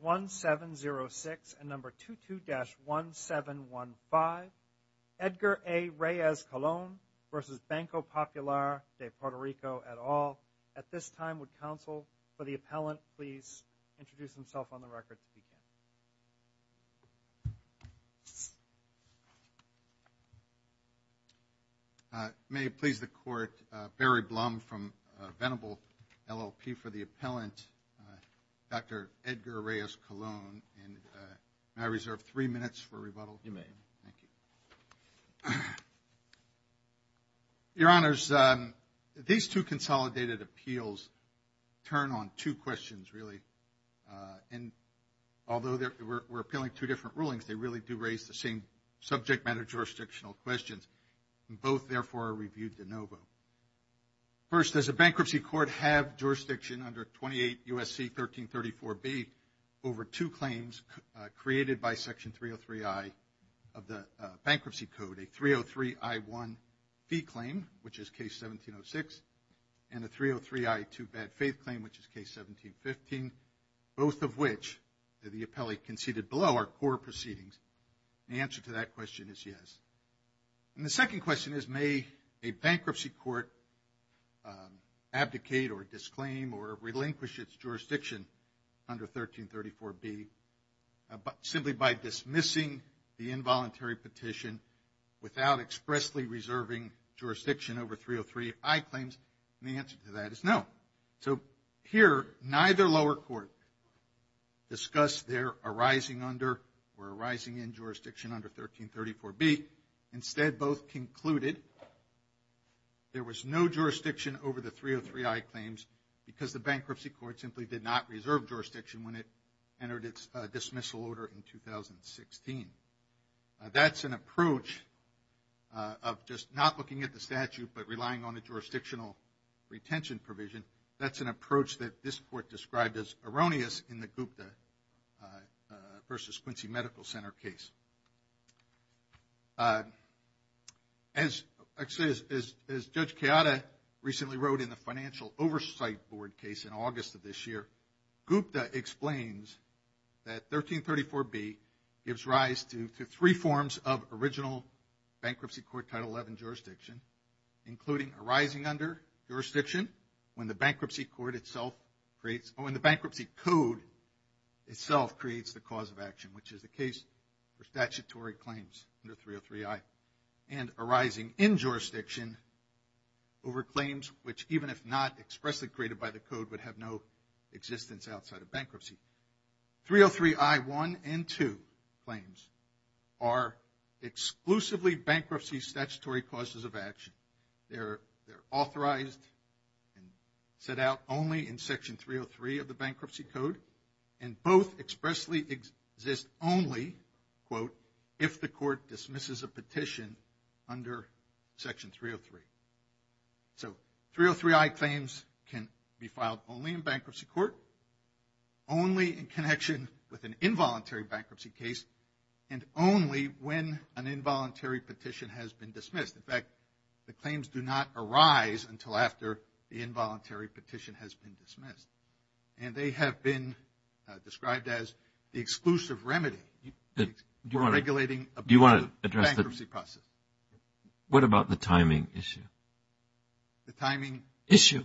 1706 and number 22-1715 Edgar A. Reyes-Colon v. Banco Popular de Puerto Rico et al. At this time would counsel for the appellant please introduce himself on the record. May it please the court. Barry Blum from Venable LLP for the appellant. Dr. Edgar Reyes-Colon and I reserve three minutes for rebuttal. You may. Thank you. Your honors, these two consolidated appeals turn on two questions really and although we're appealing two different rulings they really do raise the same subject matter jurisdictional questions and both therefore are reviewed de novo. First, does a bankruptcy court have jurisdiction under 28 U.S.C. 1334B over two claims created by section 303I of the bankruptcy code? A 303I1 fee claim which is case 1706 and a 303I2 bad faith claim which is case 1715. Both of which the appellate conceded below are core proceedings. The answer to that question is yes. And the second question is may a bankruptcy court abdicate or disclaim or relinquish its jurisdiction under 1334B simply by dismissing the involuntary petition without expressly reserving jurisdiction over 303I claims? And the answer to that is no. So here neither lower court discussed their arising under or arising in jurisdiction under 1334B. Instead both concluded there was no jurisdiction over the 303I claims because the bankruptcy court simply did not reserve jurisdiction when it entered its dismissal order in 2016. That's an approach of just not looking at the statute but relying on a jurisdictional retention provision. That's an approach that this court described as erroneous in the Gupta versus Quincy Medical Center case. As Judge Keada recently wrote in the financial oversight board case in August of this year, Gupta explains that 1334B gives rise to three forms of original bankruptcy court Title 11 jurisdiction including arising under jurisdiction when the bankruptcy court itself creates, when the bankruptcy code itself creates the cause of action which is the case for statutory claims under 303I. And arising in jurisdiction over claims which even if not expressly created by the code would have no existence outside of bankruptcy. 303I1 and 2 claims are exclusively bankruptcy statutory causes of action. They're authorized and set out only in section 303 of the bankruptcy code and both expressly exist only, quote, if the court dismisses a petition under section 303. So 303I claims can be filed only in bankruptcy court, only in connection with an involuntary bankruptcy case, and only when an involuntary petition has been dismissed. In fact, the claims do not arise until after the involuntary petition has been dismissed. And they have been described as the exclusive remedy for regulating a bankruptcy process. What about the timing issue? The timing issue?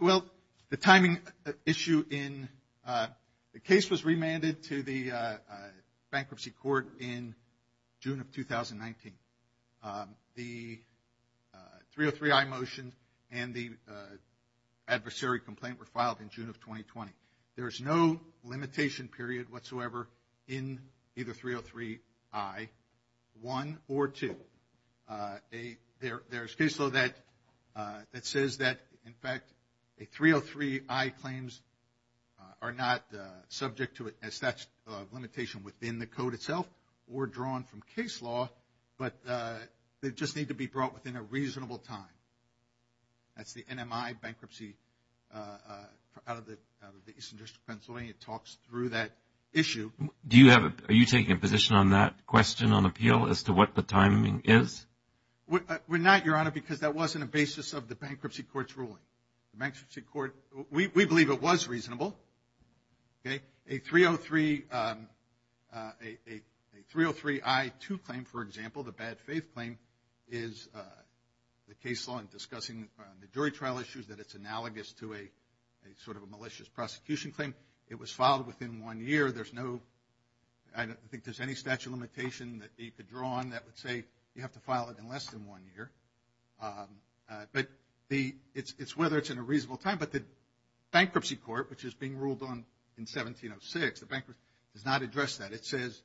Well, the timing issue in the case was remanded to the bankruptcy court in June of 2019. The 303I motion and the adversary complaint were 1 or 2. There's case law that says that in fact a 303I claims are not subject to a statute of limitation within the code itself or drawn from case law, but they just need to be brought within a reasonable time. That's the NMI bankruptcy out of the Eastern District of Pennsylvania talks through that issue. Do you have a, are you taking a position on that question on appeal as to what the timing is? We're not, Your Honor, because that wasn't a basis of the bankruptcy court's ruling. The bankruptcy court, we believe it was reasonable. A 303I2 claim, for example, the bad faith claim, is the case law in discussing the jury trial issues that it's analogous to a sort of a malicious prosecution claim. It was filed within one year. There's no, I don't think there's any statute of limitation that you could draw on that would say you have to file it in less than one year. But it's whether it's in a reasonable time. But the bankruptcy court, which is being ruled on in 1706, the bankruptcy does not address that. It says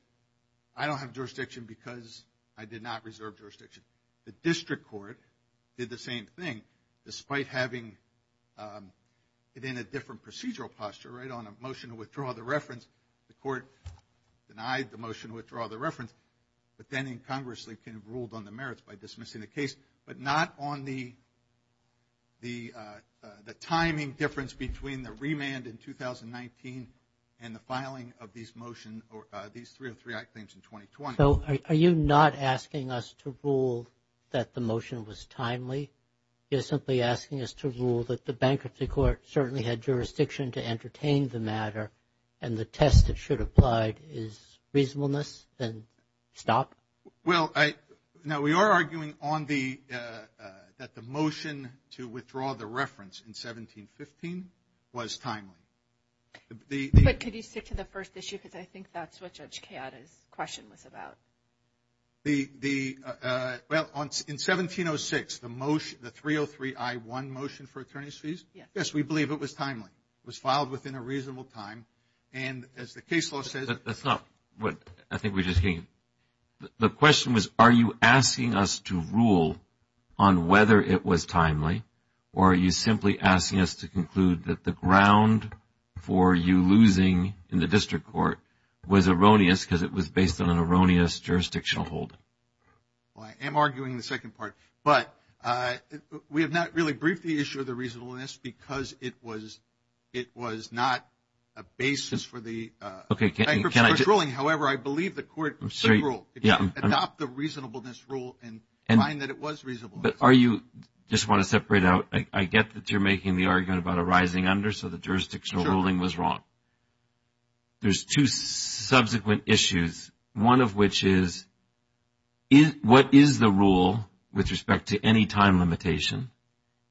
I don't have jurisdiction because I did not reserve jurisdiction. The district court did the same thing despite having it in a different procedural posture, right, on a motion to withdraw the reference. The court denied the reference. But then in Congress, they kind of ruled on the merits by dismissing the case, but not on the timing difference between the remand in 2019 and the filing of these motion, or these 303I claims in 2020. So are you not asking us to rule that the motion was timely? You're simply asking us to rule that the bankruptcy court certainly had jurisdiction to entertain the matter, and the test that should have applied is reasonableness, then stop? Well, now we are arguing on the, that the motion to withdraw the reference in 1715 was timely. But could you stick to the first issue? Because I think that's what Judge Chiara's question was about. The, well, in 1706, the motion, the 303I1 motion for attorney's fees, yes, we believe it was timely. It was filed within a reasonable time. And as the case law says... But that's not what I think we're just hearing. The question was, are you asking us to rule on whether it was timely? Or are you simply asking us to conclude that the ground for you losing in the district court was erroneous because it was based on an erroneous jurisdictional hold? Well, I am arguing the second part. But we have not really the issue of the reasonableness because it was not a basis for the bankruptcy court ruling. However, I believe the court should rule, adopt the reasonableness rule and find that it was reasonableness. But are you, just want to separate out, I get that you're making the argument about a rising under, so the jurisdictional ruling was wrong. There's two subsequent issues, one of which is, what is the rule with respect to any time limitation?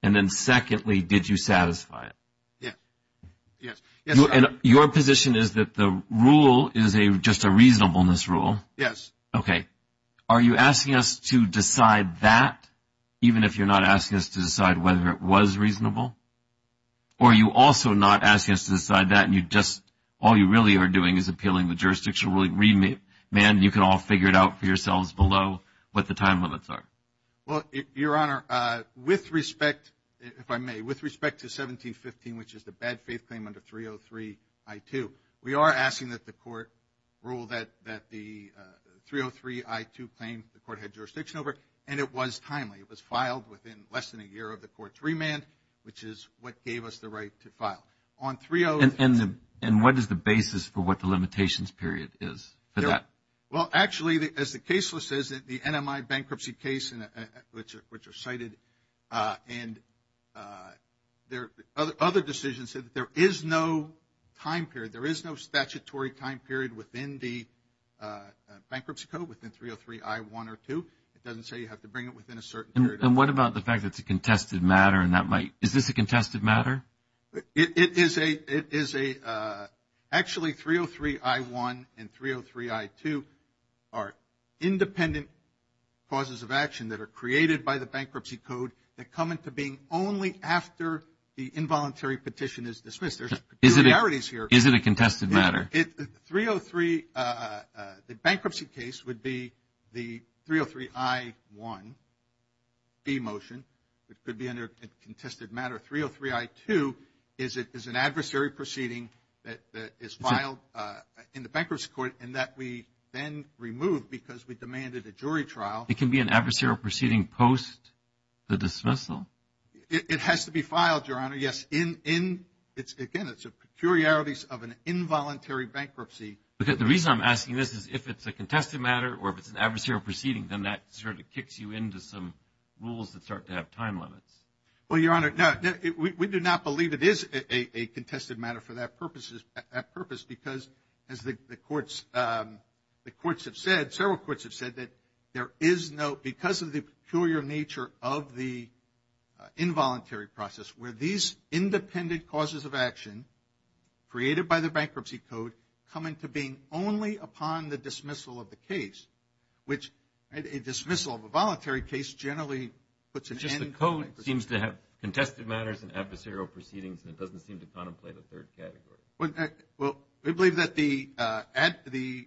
And then secondly, did you satisfy it? Yes. Your position is that the rule is just a reasonableness rule? Yes. Okay. Are you asking us to decide that, even if you're not asking us to decide whether it was reasonable? Or are you also not asking us to decide that and you just, all you really are doing is appealing the jurisdictional ruling? Man, you can all figure it out for yourselves below what the time limits are. Well, Your Honor, with respect, if I may, with respect to 1715, which is the bad faith claim under 303 I-2, we are asking that the court rule that the 303 I-2 claim, the court had jurisdiction over, and it was timely. It was filed within less than a year of the court's remand, which is what is the basis for what the limitations period is for that? Well, actually, as the case list says, the NMI bankruptcy case, which are cited, and other decisions said that there is no time period. There is no statutory time period within the bankruptcy code, within 303 I-1 or 2. It doesn't say you have to bring it within a certain period. And what about the fact that it's a contested matter and that might, is this a contested matter? It is a, it is a, actually, 303 I-1 and 303 I-2 are independent causes of action that are created by the bankruptcy code that come into being only after the involuntary petition is dismissed. There's peculiarities here. Is it a contested matter? 303, the bankruptcy case would be the 303 I-1, the motion. It could be a contested matter. 303 I-2 is an adversary proceeding that is filed in the bankruptcy court and that we then removed because we demanded a jury trial. It can be an adversarial proceeding post the dismissal? It has to be filed, Your Honor. Yes. Again, it's a peculiarities of an involuntary bankruptcy. The reason I'm asking this is if it's a contested matter or if it's an adversarial proceeding, then that sort of kicks you into some rules that start to have time limits. Well, Your Honor, no, we do not believe it is a contested matter for that purposes, that purpose because as the courts, the courts have said, several courts have said that there is no, because of the peculiar nature of the involuntary process where these independent causes of action created by the bankruptcy code come into being only upon the dismissal of the which a dismissal of a voluntary case generally puts an end to bankruptcy. It's just the code seems to have contested matters and adversarial proceedings, and it doesn't seem to contemplate a third category. Well, we believe that the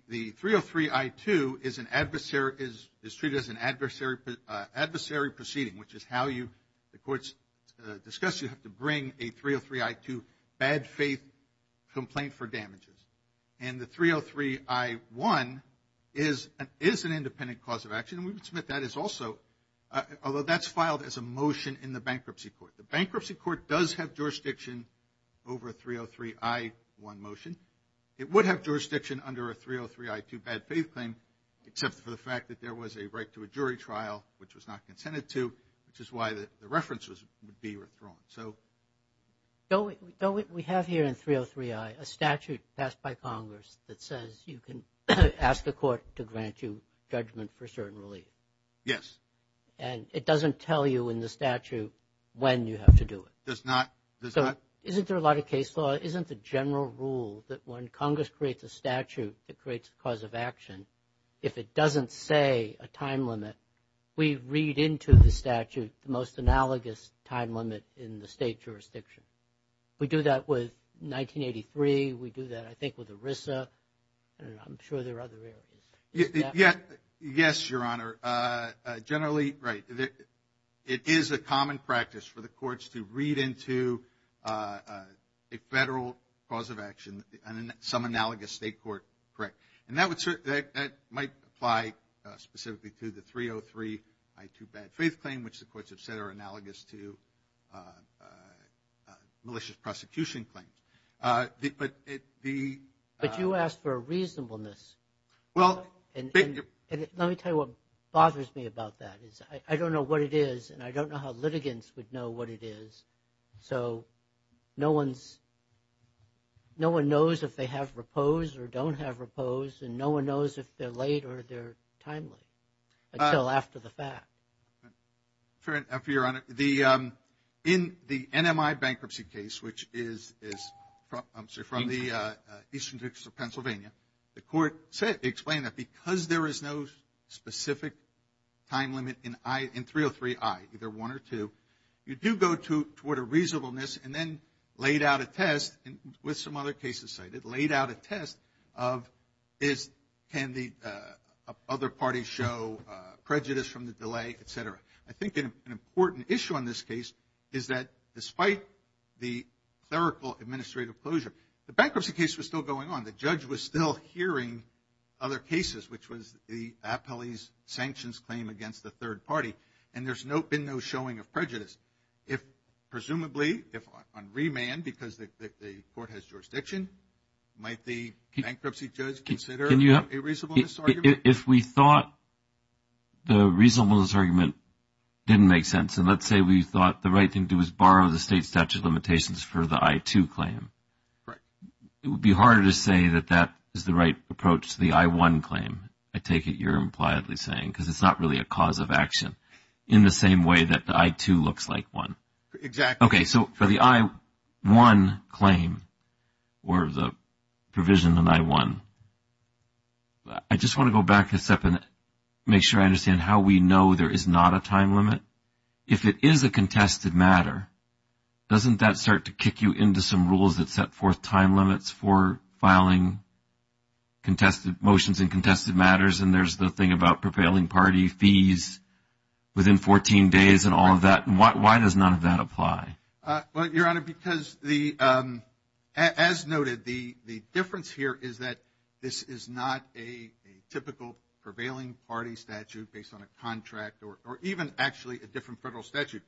303 I-2 is an adversary, is treated as an adversary proceeding, which is how you, the courts discuss, you have to bring a 303 I-2 bad faith complaint for damages. And the 303 I-1 is an independent cause of action, and we would submit that is also, although that's filed as a motion in the bankruptcy court. The bankruptcy court does have jurisdiction over a 303 I-1 motion. It would have jurisdiction under a 303 I-2 bad faith claim, except for the fact that there was a right to a jury trial, which was not consented to, which is why the reference would be withdrawn. So, we have here in 303 I a statute passed by Congress that says you can ask the court to grant you judgment for certain relief. Yes. And it doesn't tell you in the statute when you have to do it. Does not, does not. Isn't there a lot of case law? Isn't the general rule that when Congress creates a statute, it creates a cause of action. If it doesn't say a time limit, we read into the statute the most analogous time limit in the state jurisdiction. We do that with 1983. We do that, I think, with ERISA, and I'm sure there are other areas. Yes, Your Honor. Generally, right. It is a common practice for the courts to read into a federal cause of action, some analogous state court. Correct. And that would certainly, that might apply specifically to the 303 I-2 bad faith claim, which the courts have said are analogous to malicious prosecution claims. But it, the. But you asked for a reasonableness. Well. And let me tell you what bothers me about that is I don't know what it is, and I don't know how litigants would know what it is. So, no one's, no one knows if they have repose or don't have repose, and no one knows if they're late or they're timely until after the fact. Fair enough, Your Honor. In the NMI bankruptcy case, which is, I'm sorry, from the Eastern District of Pennsylvania, the court said, explained that because there is no specific time limit in 303 I, either one or two, you do go toward a reasonableness and then laid out a test, and with some other cases cited, laid out a test of is, can the other party show prejudice from the delay, et cetera. I think an important issue on this case is that despite the clerical administrative closure, the bankruptcy case was still going on. The judge was still hearing other cases, which was the appellee's sanctions claim against the third party, and there's no, been no showing of prejudice. If, presumably, if on remand, because the court has jurisdiction, might the bankruptcy judge consider a reasonableness argument? If we thought the reasonableness argument didn't make sense, and let's say we thought the right thing to do is borrow the state statute limitations for the I-2 claim, it would be harder to say that that is the right approach to the I-1 claim, I take it you're impliedly saying, because it's not really a cause of action, in the same way that the I-2 looks like one. Exactly. Okay, so for the I-1 claim, or the provision in I-1, I just want to go back a step and make sure I understand how we know there is not a time limit. If it is a contested matter, doesn't that start to kick you into some rules that set forth time limits for filing contested motions and contested matters, and there's the thing about prevailing party fees within 14 days and all of that, and why does none of that apply? Well, Your Honor, because the, as noted, the difference here is that this is not a typical prevailing party statute based on a contract, or even actually a different federal statute.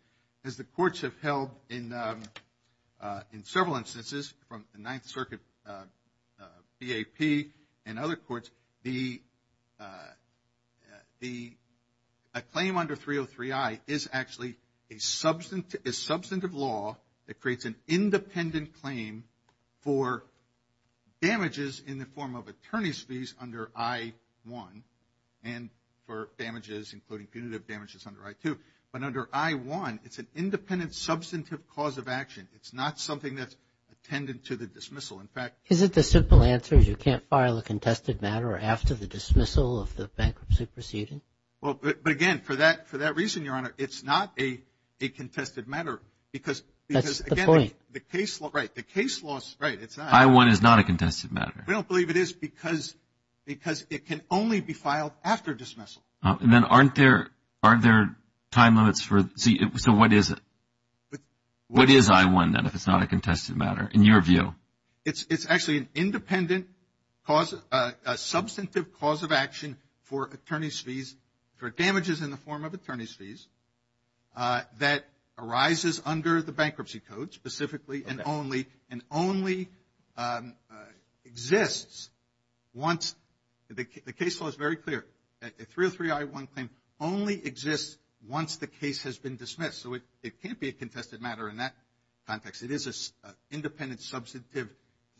As the courts have held in several instances, from the Ninth Circuit BAP and other courts, a claim under 303I is actually a substantive law that creates an independent claim for damages in the form of attorney's fees under I-1, and for damages, including punitive damages under I-2. But under I-1, it's an independent substantive cause of action. It's not something that's attendant to the dismissal. In fact, Is it the simple answer, you can't file a contested matter after the dismissal of the bankruptcy proceeding? Well, but again, for that reason, Your Honor, it's not a contested matter because, That's the point. The case law, right, the case law, right, it's not. I-1 is not a contested matter. We don't believe it is because it can only be filed after dismissal. And then aren't there time limits for, so what is it? What is I-1, then, if it's not a contested matter, in your view? It's actually an independent substantive cause of action for attorney's fees, for damages in the form of attorney's fees, that arises under the bankruptcy code, specifically and only, and only exists once, the case law is very clear, that a 303-I-1 claim only exists once the case has been dismissed. So it can't be a contested matter in that context. It is an independent substantive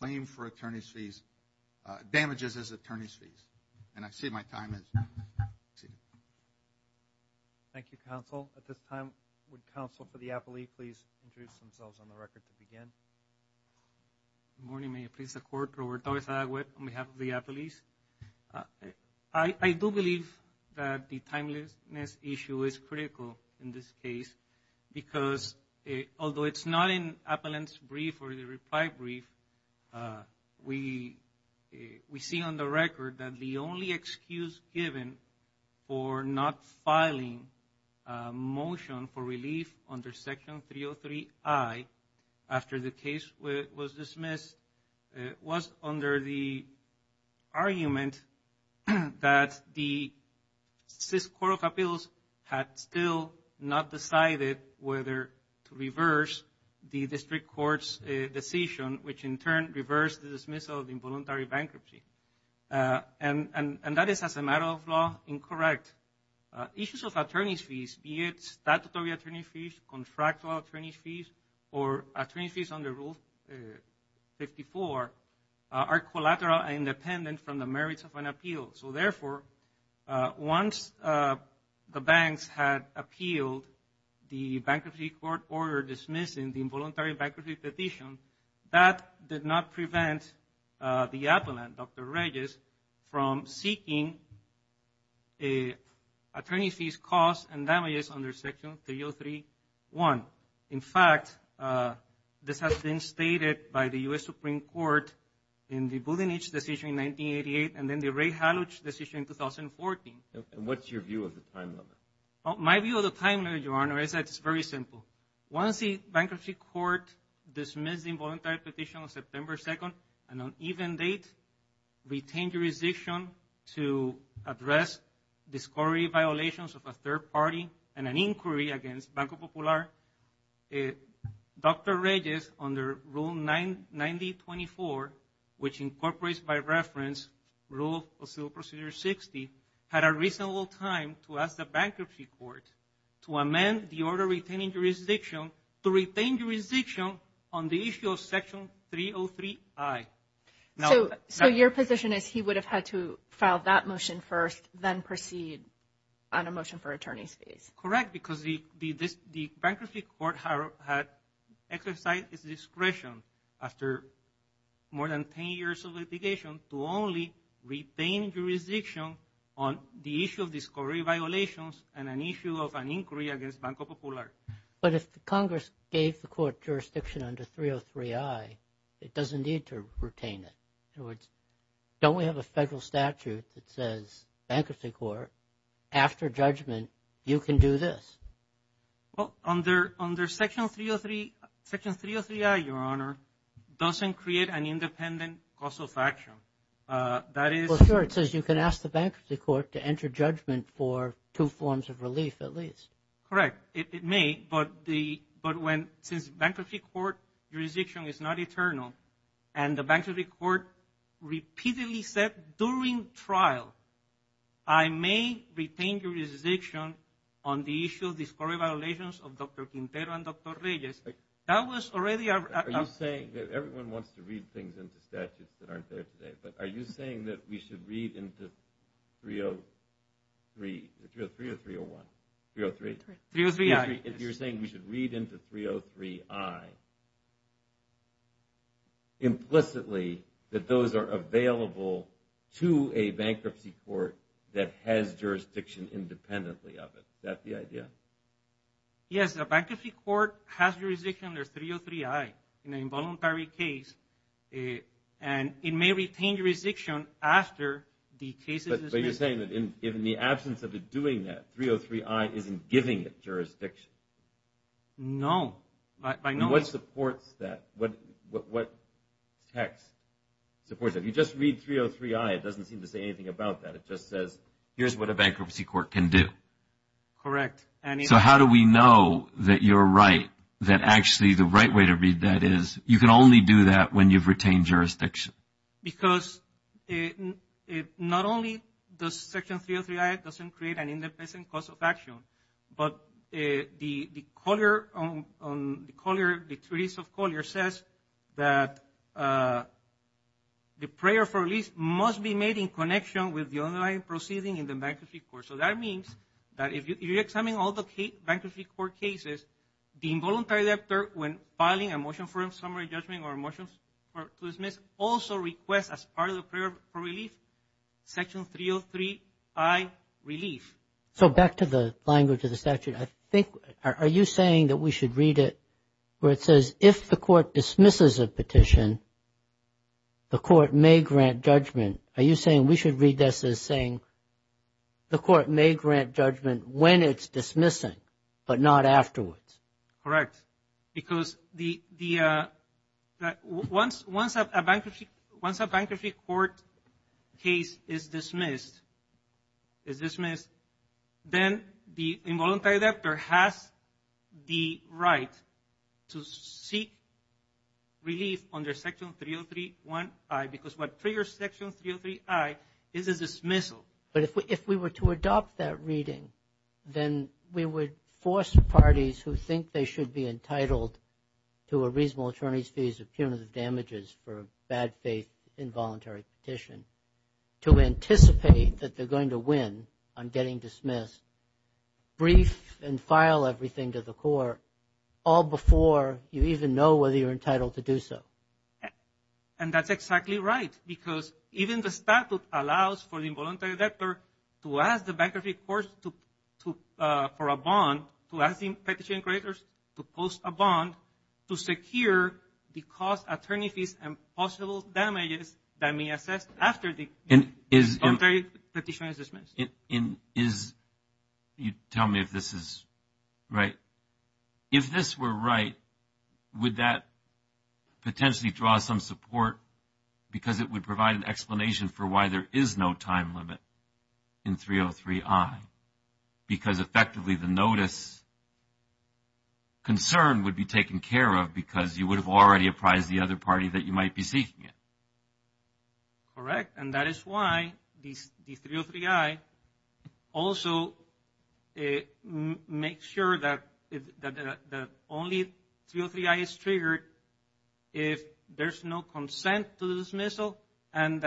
claim for attorney's fees, damages as attorney's fees. And I see my time has exceeded. Thank you, counsel. At this time, would counsel for the appellee, please introduce themselves on the record to begin. Good morning. May it please the court, Robert Torres-Agued on behalf of the appellees. I do believe that the timeliness issue is critical in this case, because although it's not in appellant's brief or the reply brief, we see on the record that the only excuse given for not filing a motion for relief under section 303-I, after the case was dismissed, it was under the argument that the Sys Corp of Appeals had still not decided whether to reverse the district court's decision, which in turn reversed the dismissal of involuntary bankruptcy. And that is, as a matter of law, incorrect. Issues of attorney's fees, be it statutory attorney's fees, contractual attorney's fees, or attorney's fees under Rule 54, are collateral and independent from the merits of an appeal. So therefore, once the banks had appealed the bankruptcy court order dismissing the involuntary bankruptcy petition, that did not prevent the appellant, Dr. Regis, from seeking attorney's fees, costs, and damages under section 303-I. In fact, this has been stated by the U.S. Supreme Court in the Budenich decision in 1988, and then the Ray Halluch decision in 2014. And what's your view of the timeliness? My view of the timeliness, Your Honor, is that it's very simple. Once the bankruptcy court dismissed the involuntary petition on September 2nd, and on even date, retained jurisdiction to address discovery violations of a third party and an inquiry against Banco Popular, Dr. Regis, under Rule 9024, which incorporates by reference Rule of Civil Procedure 60, had a reasonable time to ask the bankruptcy court to amend the order retaining jurisdiction to retain jurisdiction on the issue of section 303-I. So your position is he would have had to file that motion first, then proceed on a motion for attorney's fees? Correct, because the bankruptcy court had exercised its discretion after more than 10 years of litigation to only retain jurisdiction on the issue of discovery violations and an issue of an inquiry against Banco Popular. But if Congress gave the court jurisdiction under 303-I, it doesn't need to retain it. In other words, don't we have a federal statute that says bankruptcy court, after judgment, you can do this? Well, under section 303-I, Your Honor, doesn't create an independent cause of action. Well, sure, it says you can ask the bankruptcy court to enter judgment for two forms of relief, at least. Correct, it may, but since bankruptcy court jurisdiction is not eternal and the bankruptcy court repeatedly said during trial, I may retain jurisdiction on the issue of discovery violations of Dr. Quintero and Dr. Regis. Everyone wants to read things into statutes that aren't there today, but are you saying that we should read into 303, 303 or 301? 303. 303-I. If you're saying we should read into 303-I implicitly that those are available to a bankruptcy court that has jurisdiction independently of it, is that the idea? Yes, a bankruptcy court has jurisdiction under 303-I in an involuntary case, and it may retain jurisdiction after the case is... But you're saying that in the absence of it doing that, 303-I isn't giving it jurisdiction? No, I know... What supports that? What text supports that? You just read 303-I, it doesn't seem to say anything about that. It just says, here's what a bankruptcy court can do. Correct. So how do we know that you're right, that actually the right way to read that is you can only do that when you've retained jurisdiction? Because not only does section 303-I doesn't create an independent cause of action, but the color, the treaties of color says that the prayer for release must be made in connection with the underlying proceeding in the bankruptcy court. So that means that if you're examining all the bankruptcy court cases, the involuntary debtor, when filing a motion for summary judgment or a motion to dismiss, also requests as part of the prayer for relief, section 303-I, relief. So back to the language of the statute, I think, are you saying that we should read it where it says, if the court dismisses a petition, the court may grant judgment? Are you saying we should read this as saying, the court may grant judgment when it's dismissing, but not afterwards? Correct. Because once a bankruptcy court case is dismissed, then the involuntary debtor has the right to seek relief under section 303-I, because what triggers section 303-I is a dismissal. But if we were to adopt that reading, then we would force parties who think they should be entitled to a reasonable attorney's fees of punitive damages for a bad faith involuntary petition, to anticipate that they're going to win on getting dismissed, brief and file everything to the court, all before you even know whether you're entitled to do so. And that's exactly right, because even the statute allows for the involuntary debtor to ask the bankruptcy court for a bond, to ask the petition creators to post a bond to secure the cost attorney fees and possible damages that may be assessed after the involuntary petition is dismissed. And is, you tell me if this is right, if this were right, would that potentially draw some support? Because it would provide an explanation for why there is no time limit in 303-I. Because effectively, the notice concern would be taken care of because you would have already apprised the other party that you might be seeking it. Correct. And that is why the 303-I also it makes sure that the only 303-I is triggered if there's no consent to the dismissal and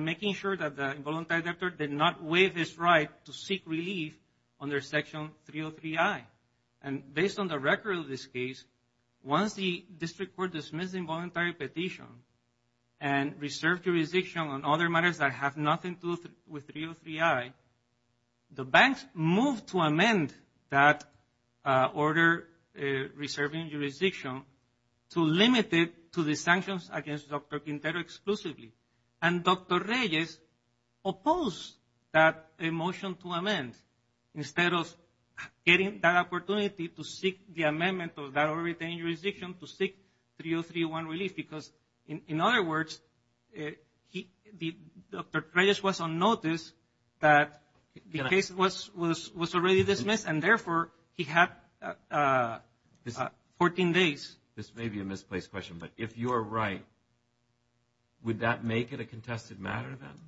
making sure that the involuntary debtor did not waive his right to seek relief under section 303-I. And based on the record of this case, once the district court dismisses involuntary petition and reserve jurisdiction on other matters that have nothing to do with 303-I, the banks moved to amend that order reserving jurisdiction to limit it to the sanctions against Dr. Quintero exclusively. And Dr. Reyes opposed that motion to amend instead of getting that opportunity to seek the amendment of that order retaining jurisdiction to seek 303-I relief. Because in other words, Dr. Reyes was on notice that the case was already dismissed and therefore he had 14 days. This may be a misplaced question, but if you're right, would that make it a contested matter then?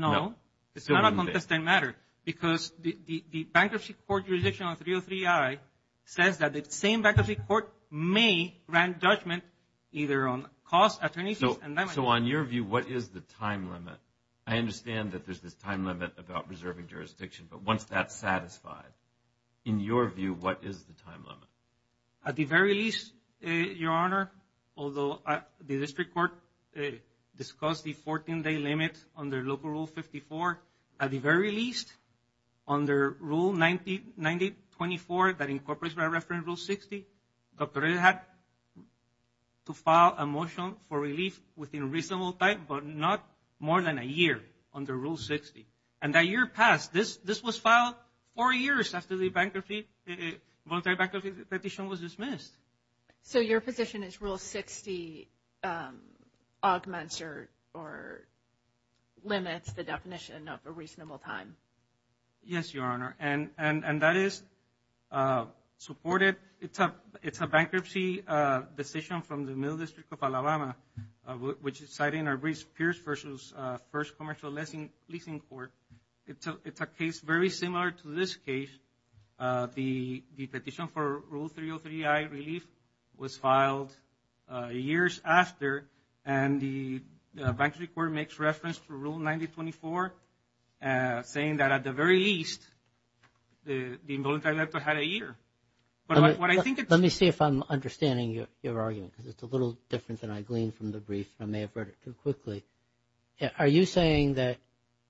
No, it's not a contested matter because the bankruptcy court jurisdiction on 303-I says that the same bankruptcy court may grant judgment either on cost, attorneys and damages. So on your view, what is the time limit? I understand that there's this time limit about reserving jurisdiction, but once that's satisfied, in your view, what is the time limit? At the very least, Your Honor, although the district court discussed the 14-day limit under Local Rule 54, at the very least, under Rule 9024 that incorporates by reference Rule 60, Dr. Reyes had to file a motion for relief within reasonable time, not more than a year under Rule 60. And that year passed. This was filed four years after the voluntary bankruptcy petition was dismissed. So your position is Rule 60 augments or limits the definition of a reasonable time? Yes, Your Honor, and that is supported. It's a bankruptcy decision from the Middle District of Alabama, which is cited in our Pierce v. First Commercial Leasing Court. It's a case very similar to this case. The petition for Rule 303-I relief was filed years after, and the bankruptcy court makes reference to Rule 9024 saying that at the very least, the involuntary debt had a year. Let me see if I'm understanding your argument because it's a little different than I gleaned from the brief. I may have read it too quickly. Are you saying that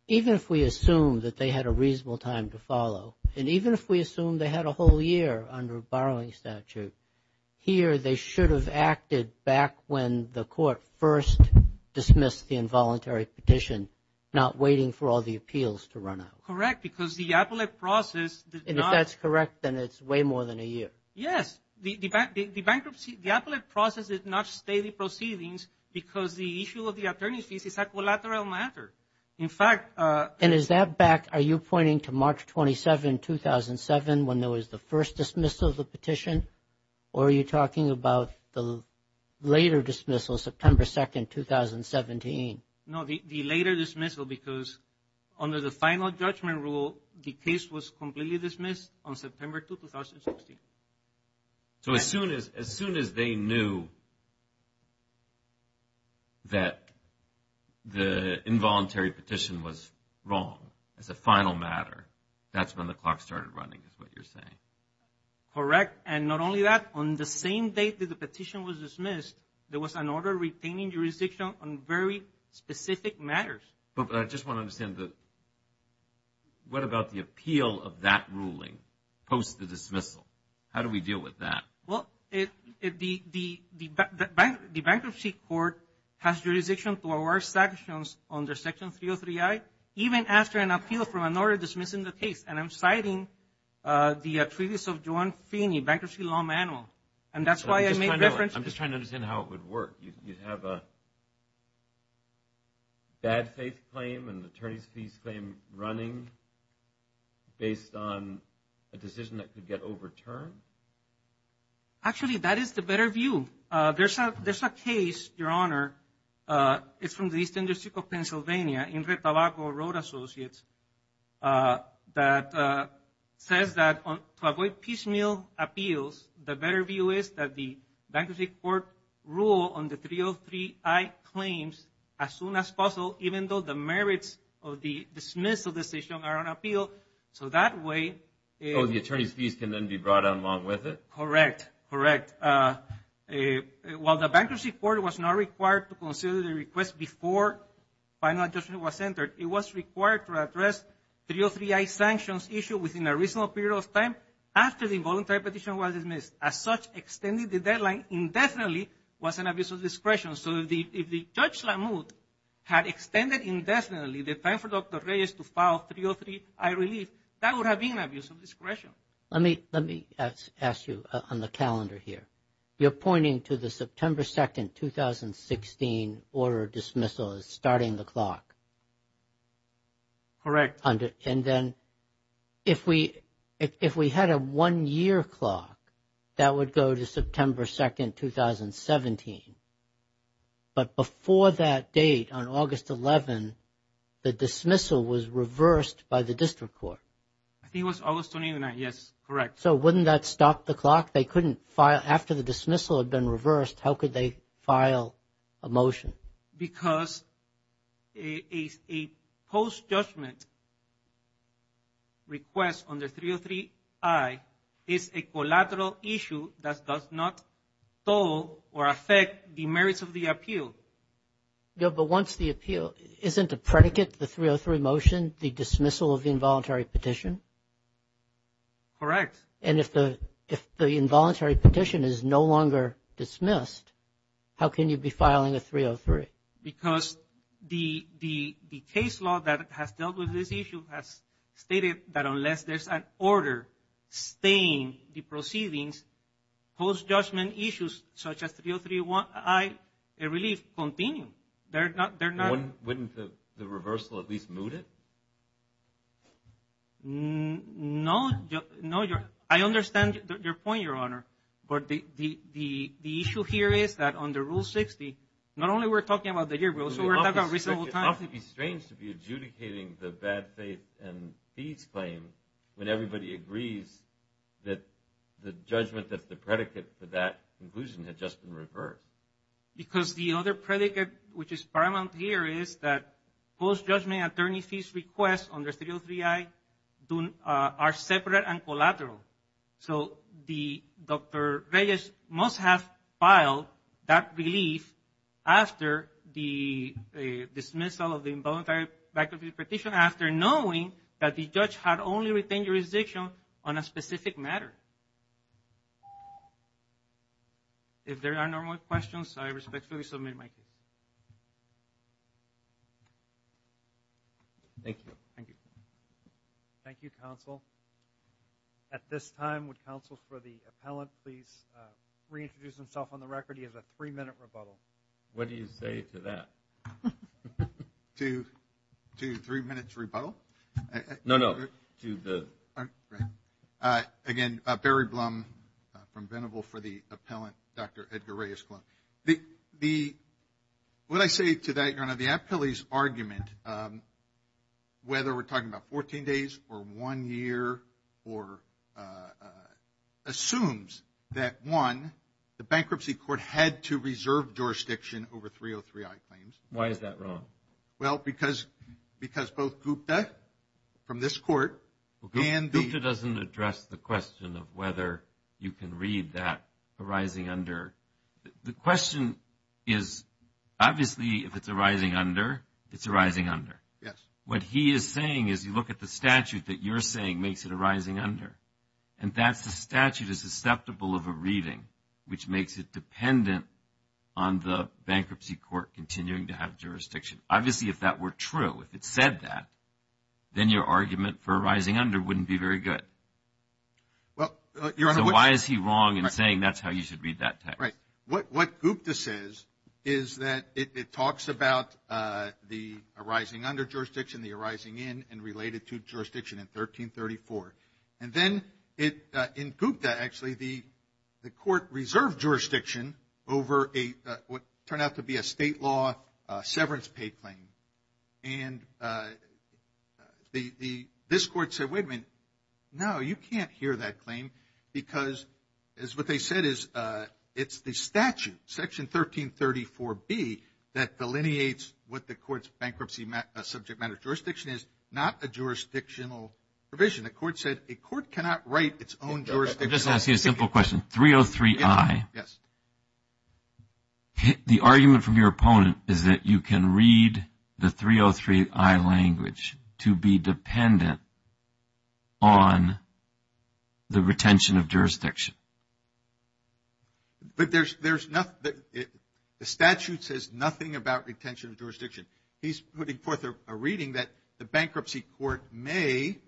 even if we assume that they had a reasonable time to follow, and even if we assume they had a whole year under a borrowing statute, here they should have acted back when the court first dismissed the involuntary petition, not waiting for all the appeals to run out? Correct, because the appellate process did not... And if that's correct, then it's way more than a year. Yes, the bankruptcy, the appellate process did not stay the proceedings because the issue of the attorney's fees is a collateral matter. In fact... And is that back, are you pointing to March 27, 2007, when there was the first dismissal of the petition? Or are you talking about the later dismissal, September 2, 2017? No, the later dismissal because under the final judgment rule, the case was completely dismissed on September 2, 2016. So as soon as they knew that the involuntary petition was wrong as a final matter, that's when the clock started running, is what you're saying? Correct, and not only that, on the same date that the petition was dismissed, there was an order retaining jurisdiction on very specific matters. But I just want to understand, what about the appeal of that ruling post the dismissal? How do we deal with that? Well, the Bankruptcy Court has jurisdiction to award sanctions under Section 303I, even after an appeal from an order dismissing the case. And I'm citing the Treaties of John Feeney Bankruptcy Law Manual. And that's why I made reference... I'm just trying to understand how it would work. You'd have a bad faith claim and attorney's fees claim running based on a decision that could get overturned? Actually, that is the better view. There's a case, Your Honor, it's from the East District of Pennsylvania, Ingrid Tabaco Road Associates, that says that to avoid piecemeal appeals, the better view is that the Bankruptcy Court rule on the 303I claims as soon as possible, even though the merits of the dismissal decision are on appeal. So that way... So the attorney's fees can then be brought on along with it? Correct, correct. While the Bankruptcy Court was not required to consider the request before final adjustment was entered, it was required to address 303I sanctions issue within a reasonable period of time after the involuntary petition was dismissed. As such, extending the deadline indefinitely was an abuse of discretion. So if Judge Lamothe had extended indefinitely the time for Dr. Reyes to file 303I relief, that would have been an abuse of discretion. Let me ask you on the calendar here. You're pointing to the September 2nd, 2016 order of dismissal as starting the clock. Correct. And then if we had a one-year clock that would go to September 2nd, 2017, but before that date on August 11, the dismissal was reversed by the District Court? I think it was August 29th, yes, correct. So wouldn't that stop the clock? They couldn't file... After the dismissal had been reversed, how could they file a motion? Because a post-judgment request under 303I is a collateral issue that does not toll or affect the merits of the appeal. But once the appeal... Isn't a predicate, the 303 motion, the dismissal of the involuntary petition? Correct. And if the involuntary petition is no longer dismissed, how can you be filing a 303? Because the case law that has dealt with this issue has stated that unless there's an order staying the proceedings, post-judgment issues such as 303I and relief continue. Wouldn't the reversal at least moot it? No, I understand your point, Your Honor. But the issue here is that under Rule 60, not only we're talking about the year rule, so we're talking about reasonable time. It would be strange to be adjudicating the bad faith and fees claim when everybody agrees that the judgment that's the predicate for that conclusion had just been reversed. Because the other predicate, which is paramount here, is that post-judgment attorney fees requests under 303I are separate and collateral. So Dr. Reyes must have filed that relief after the dismissal of the involuntary bankruptcy petition, after knowing that the judge had only retained jurisdiction on a specific matter. If there are no more questions, I respectfully submit my case. Thank you. Thank you. Thank you, counsel. At this time, would counsel for the appellant please reintroduce himself on the record? He has a three-minute rebuttal. What do you say to that? To three minutes rebuttal? No, no. Again, Barry Blum from Venable for the appellant, Dr. Edgar Reyes. The, what I say to that, Your Honor, the appellee's argument, whether we're talking about 14 days or one year or, assumes that one, the bankruptcy court had to reserve jurisdiction over 303I claims. Why is that wrong? Well, because both Gupta from this court and the- Gupta doesn't address the question of whether you can read that arising under the question is, obviously, if it's a rising under, it's a rising under. Yes. What he is saying is, you look at the statute that you're saying makes it a rising under, and that's the statute is susceptible of a reading, which makes it dependent on the bankruptcy court continuing to have jurisdiction. Obviously, if that were true, if it said that, then your argument for a rising under wouldn't be very good. Well, Your Honor- So why is he wrong in saying that's how you should read that text? What Gupta says is that it talks about the arising under jurisdiction, the arising in, and related to jurisdiction in 1334. And then it, in Gupta, actually, the court reserved jurisdiction over a, what turned out to be a state law severance pay claim. And the, this court said, wait a minute, no, you can't hear that claim because it's what the statute, section 1334B, that delineates what the court's bankruptcy subject matter jurisdiction is, not a jurisdictional provision. The court said a court cannot write its own jurisdiction. I'm just asking a simple question. 303i. Yes. The argument from your opponent is that you can read the 303i language to be dependent on the retention of jurisdiction. But there's, there's nothing, the statute says nothing about retention of jurisdiction. He's putting forth a reading that the bankruptcy court may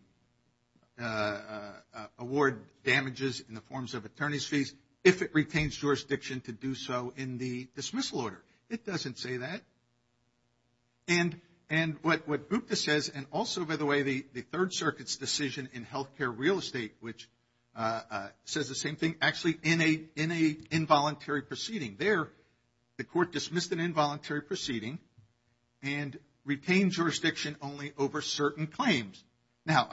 award damages in the forms of attorney's fees if it retains jurisdiction to do so in the dismissal order. It doesn't say that. And, and what, what Gupta says, and also, by the way, the, the Third Circuit's decision in healthcare real estate, which says the same thing, actually in a, in a involuntary proceeding there, the court dismissed an involuntary proceeding and retained jurisdiction only over certain claims. Now,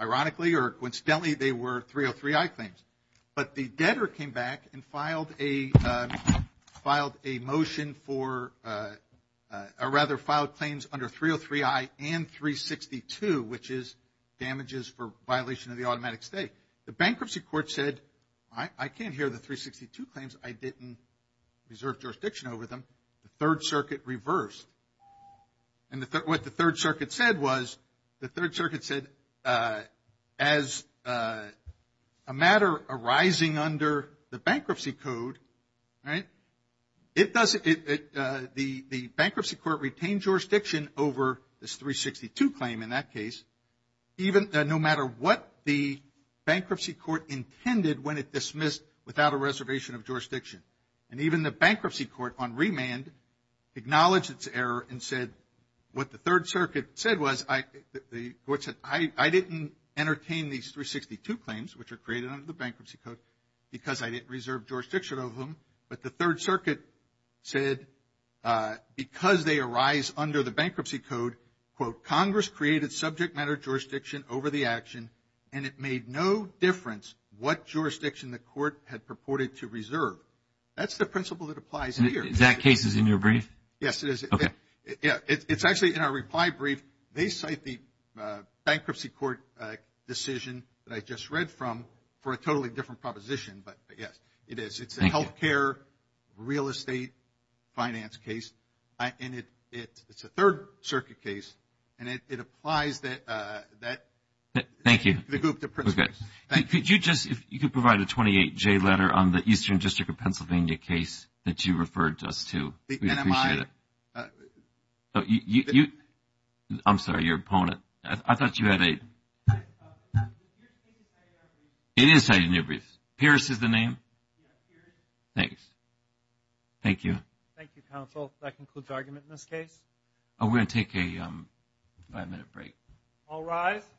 ironically, or coincidentally, they were 303i claims. But the debtor came back and filed a, filed a motion for, or rather filed claims under 303i and 362, which is damages for violation of the automatic stay. The bankruptcy court said, I, I can't hear the 362 claims. I didn't reserve jurisdiction over them. The Third Circuit reversed. And the, what the Third Circuit said was, the Third Circuit said, as a matter arising under the bankruptcy code, right, it doesn't, it, the, the bankruptcy court retained jurisdiction over this 362 claim in that case, even, no matter what the bankruptcy court intended when it dismissed without a reservation of jurisdiction. And even the bankruptcy court on remand acknowledged its error and said, what the Third Circuit said was, I, the court said, I, I didn't entertain these 362 claims, which are because I didn't reserve jurisdiction over them. But the Third Circuit said, because they arise under the bankruptcy code, quote, Congress created subject matter jurisdiction over the action, and it made no difference what jurisdiction the court had purported to reserve. That's the principle that applies here. And that case is in your brief? Yes, it is. Okay. Yeah, it's, it's actually in our reply brief. They cite the bankruptcy court decision that I just read from for a totally different proposition, but yes, it is. Thank you. It's a healthcare, real estate, finance case, and it, it, it's a Third Circuit case, and it, it applies that, that. Thank you. The group, the principles. Thank you. Could you just, if you could provide a 28J letter on the Eastern District of Pennsylvania case that you referred to us to, we'd appreciate it. Oh, you, you, I'm sorry, your opponent. I thought you had a. It is cited in your brief. Pierce is the name? Thanks. Thank you. Thank you, counsel. That concludes argument in this case. We're going to take a five-minute break. All rise.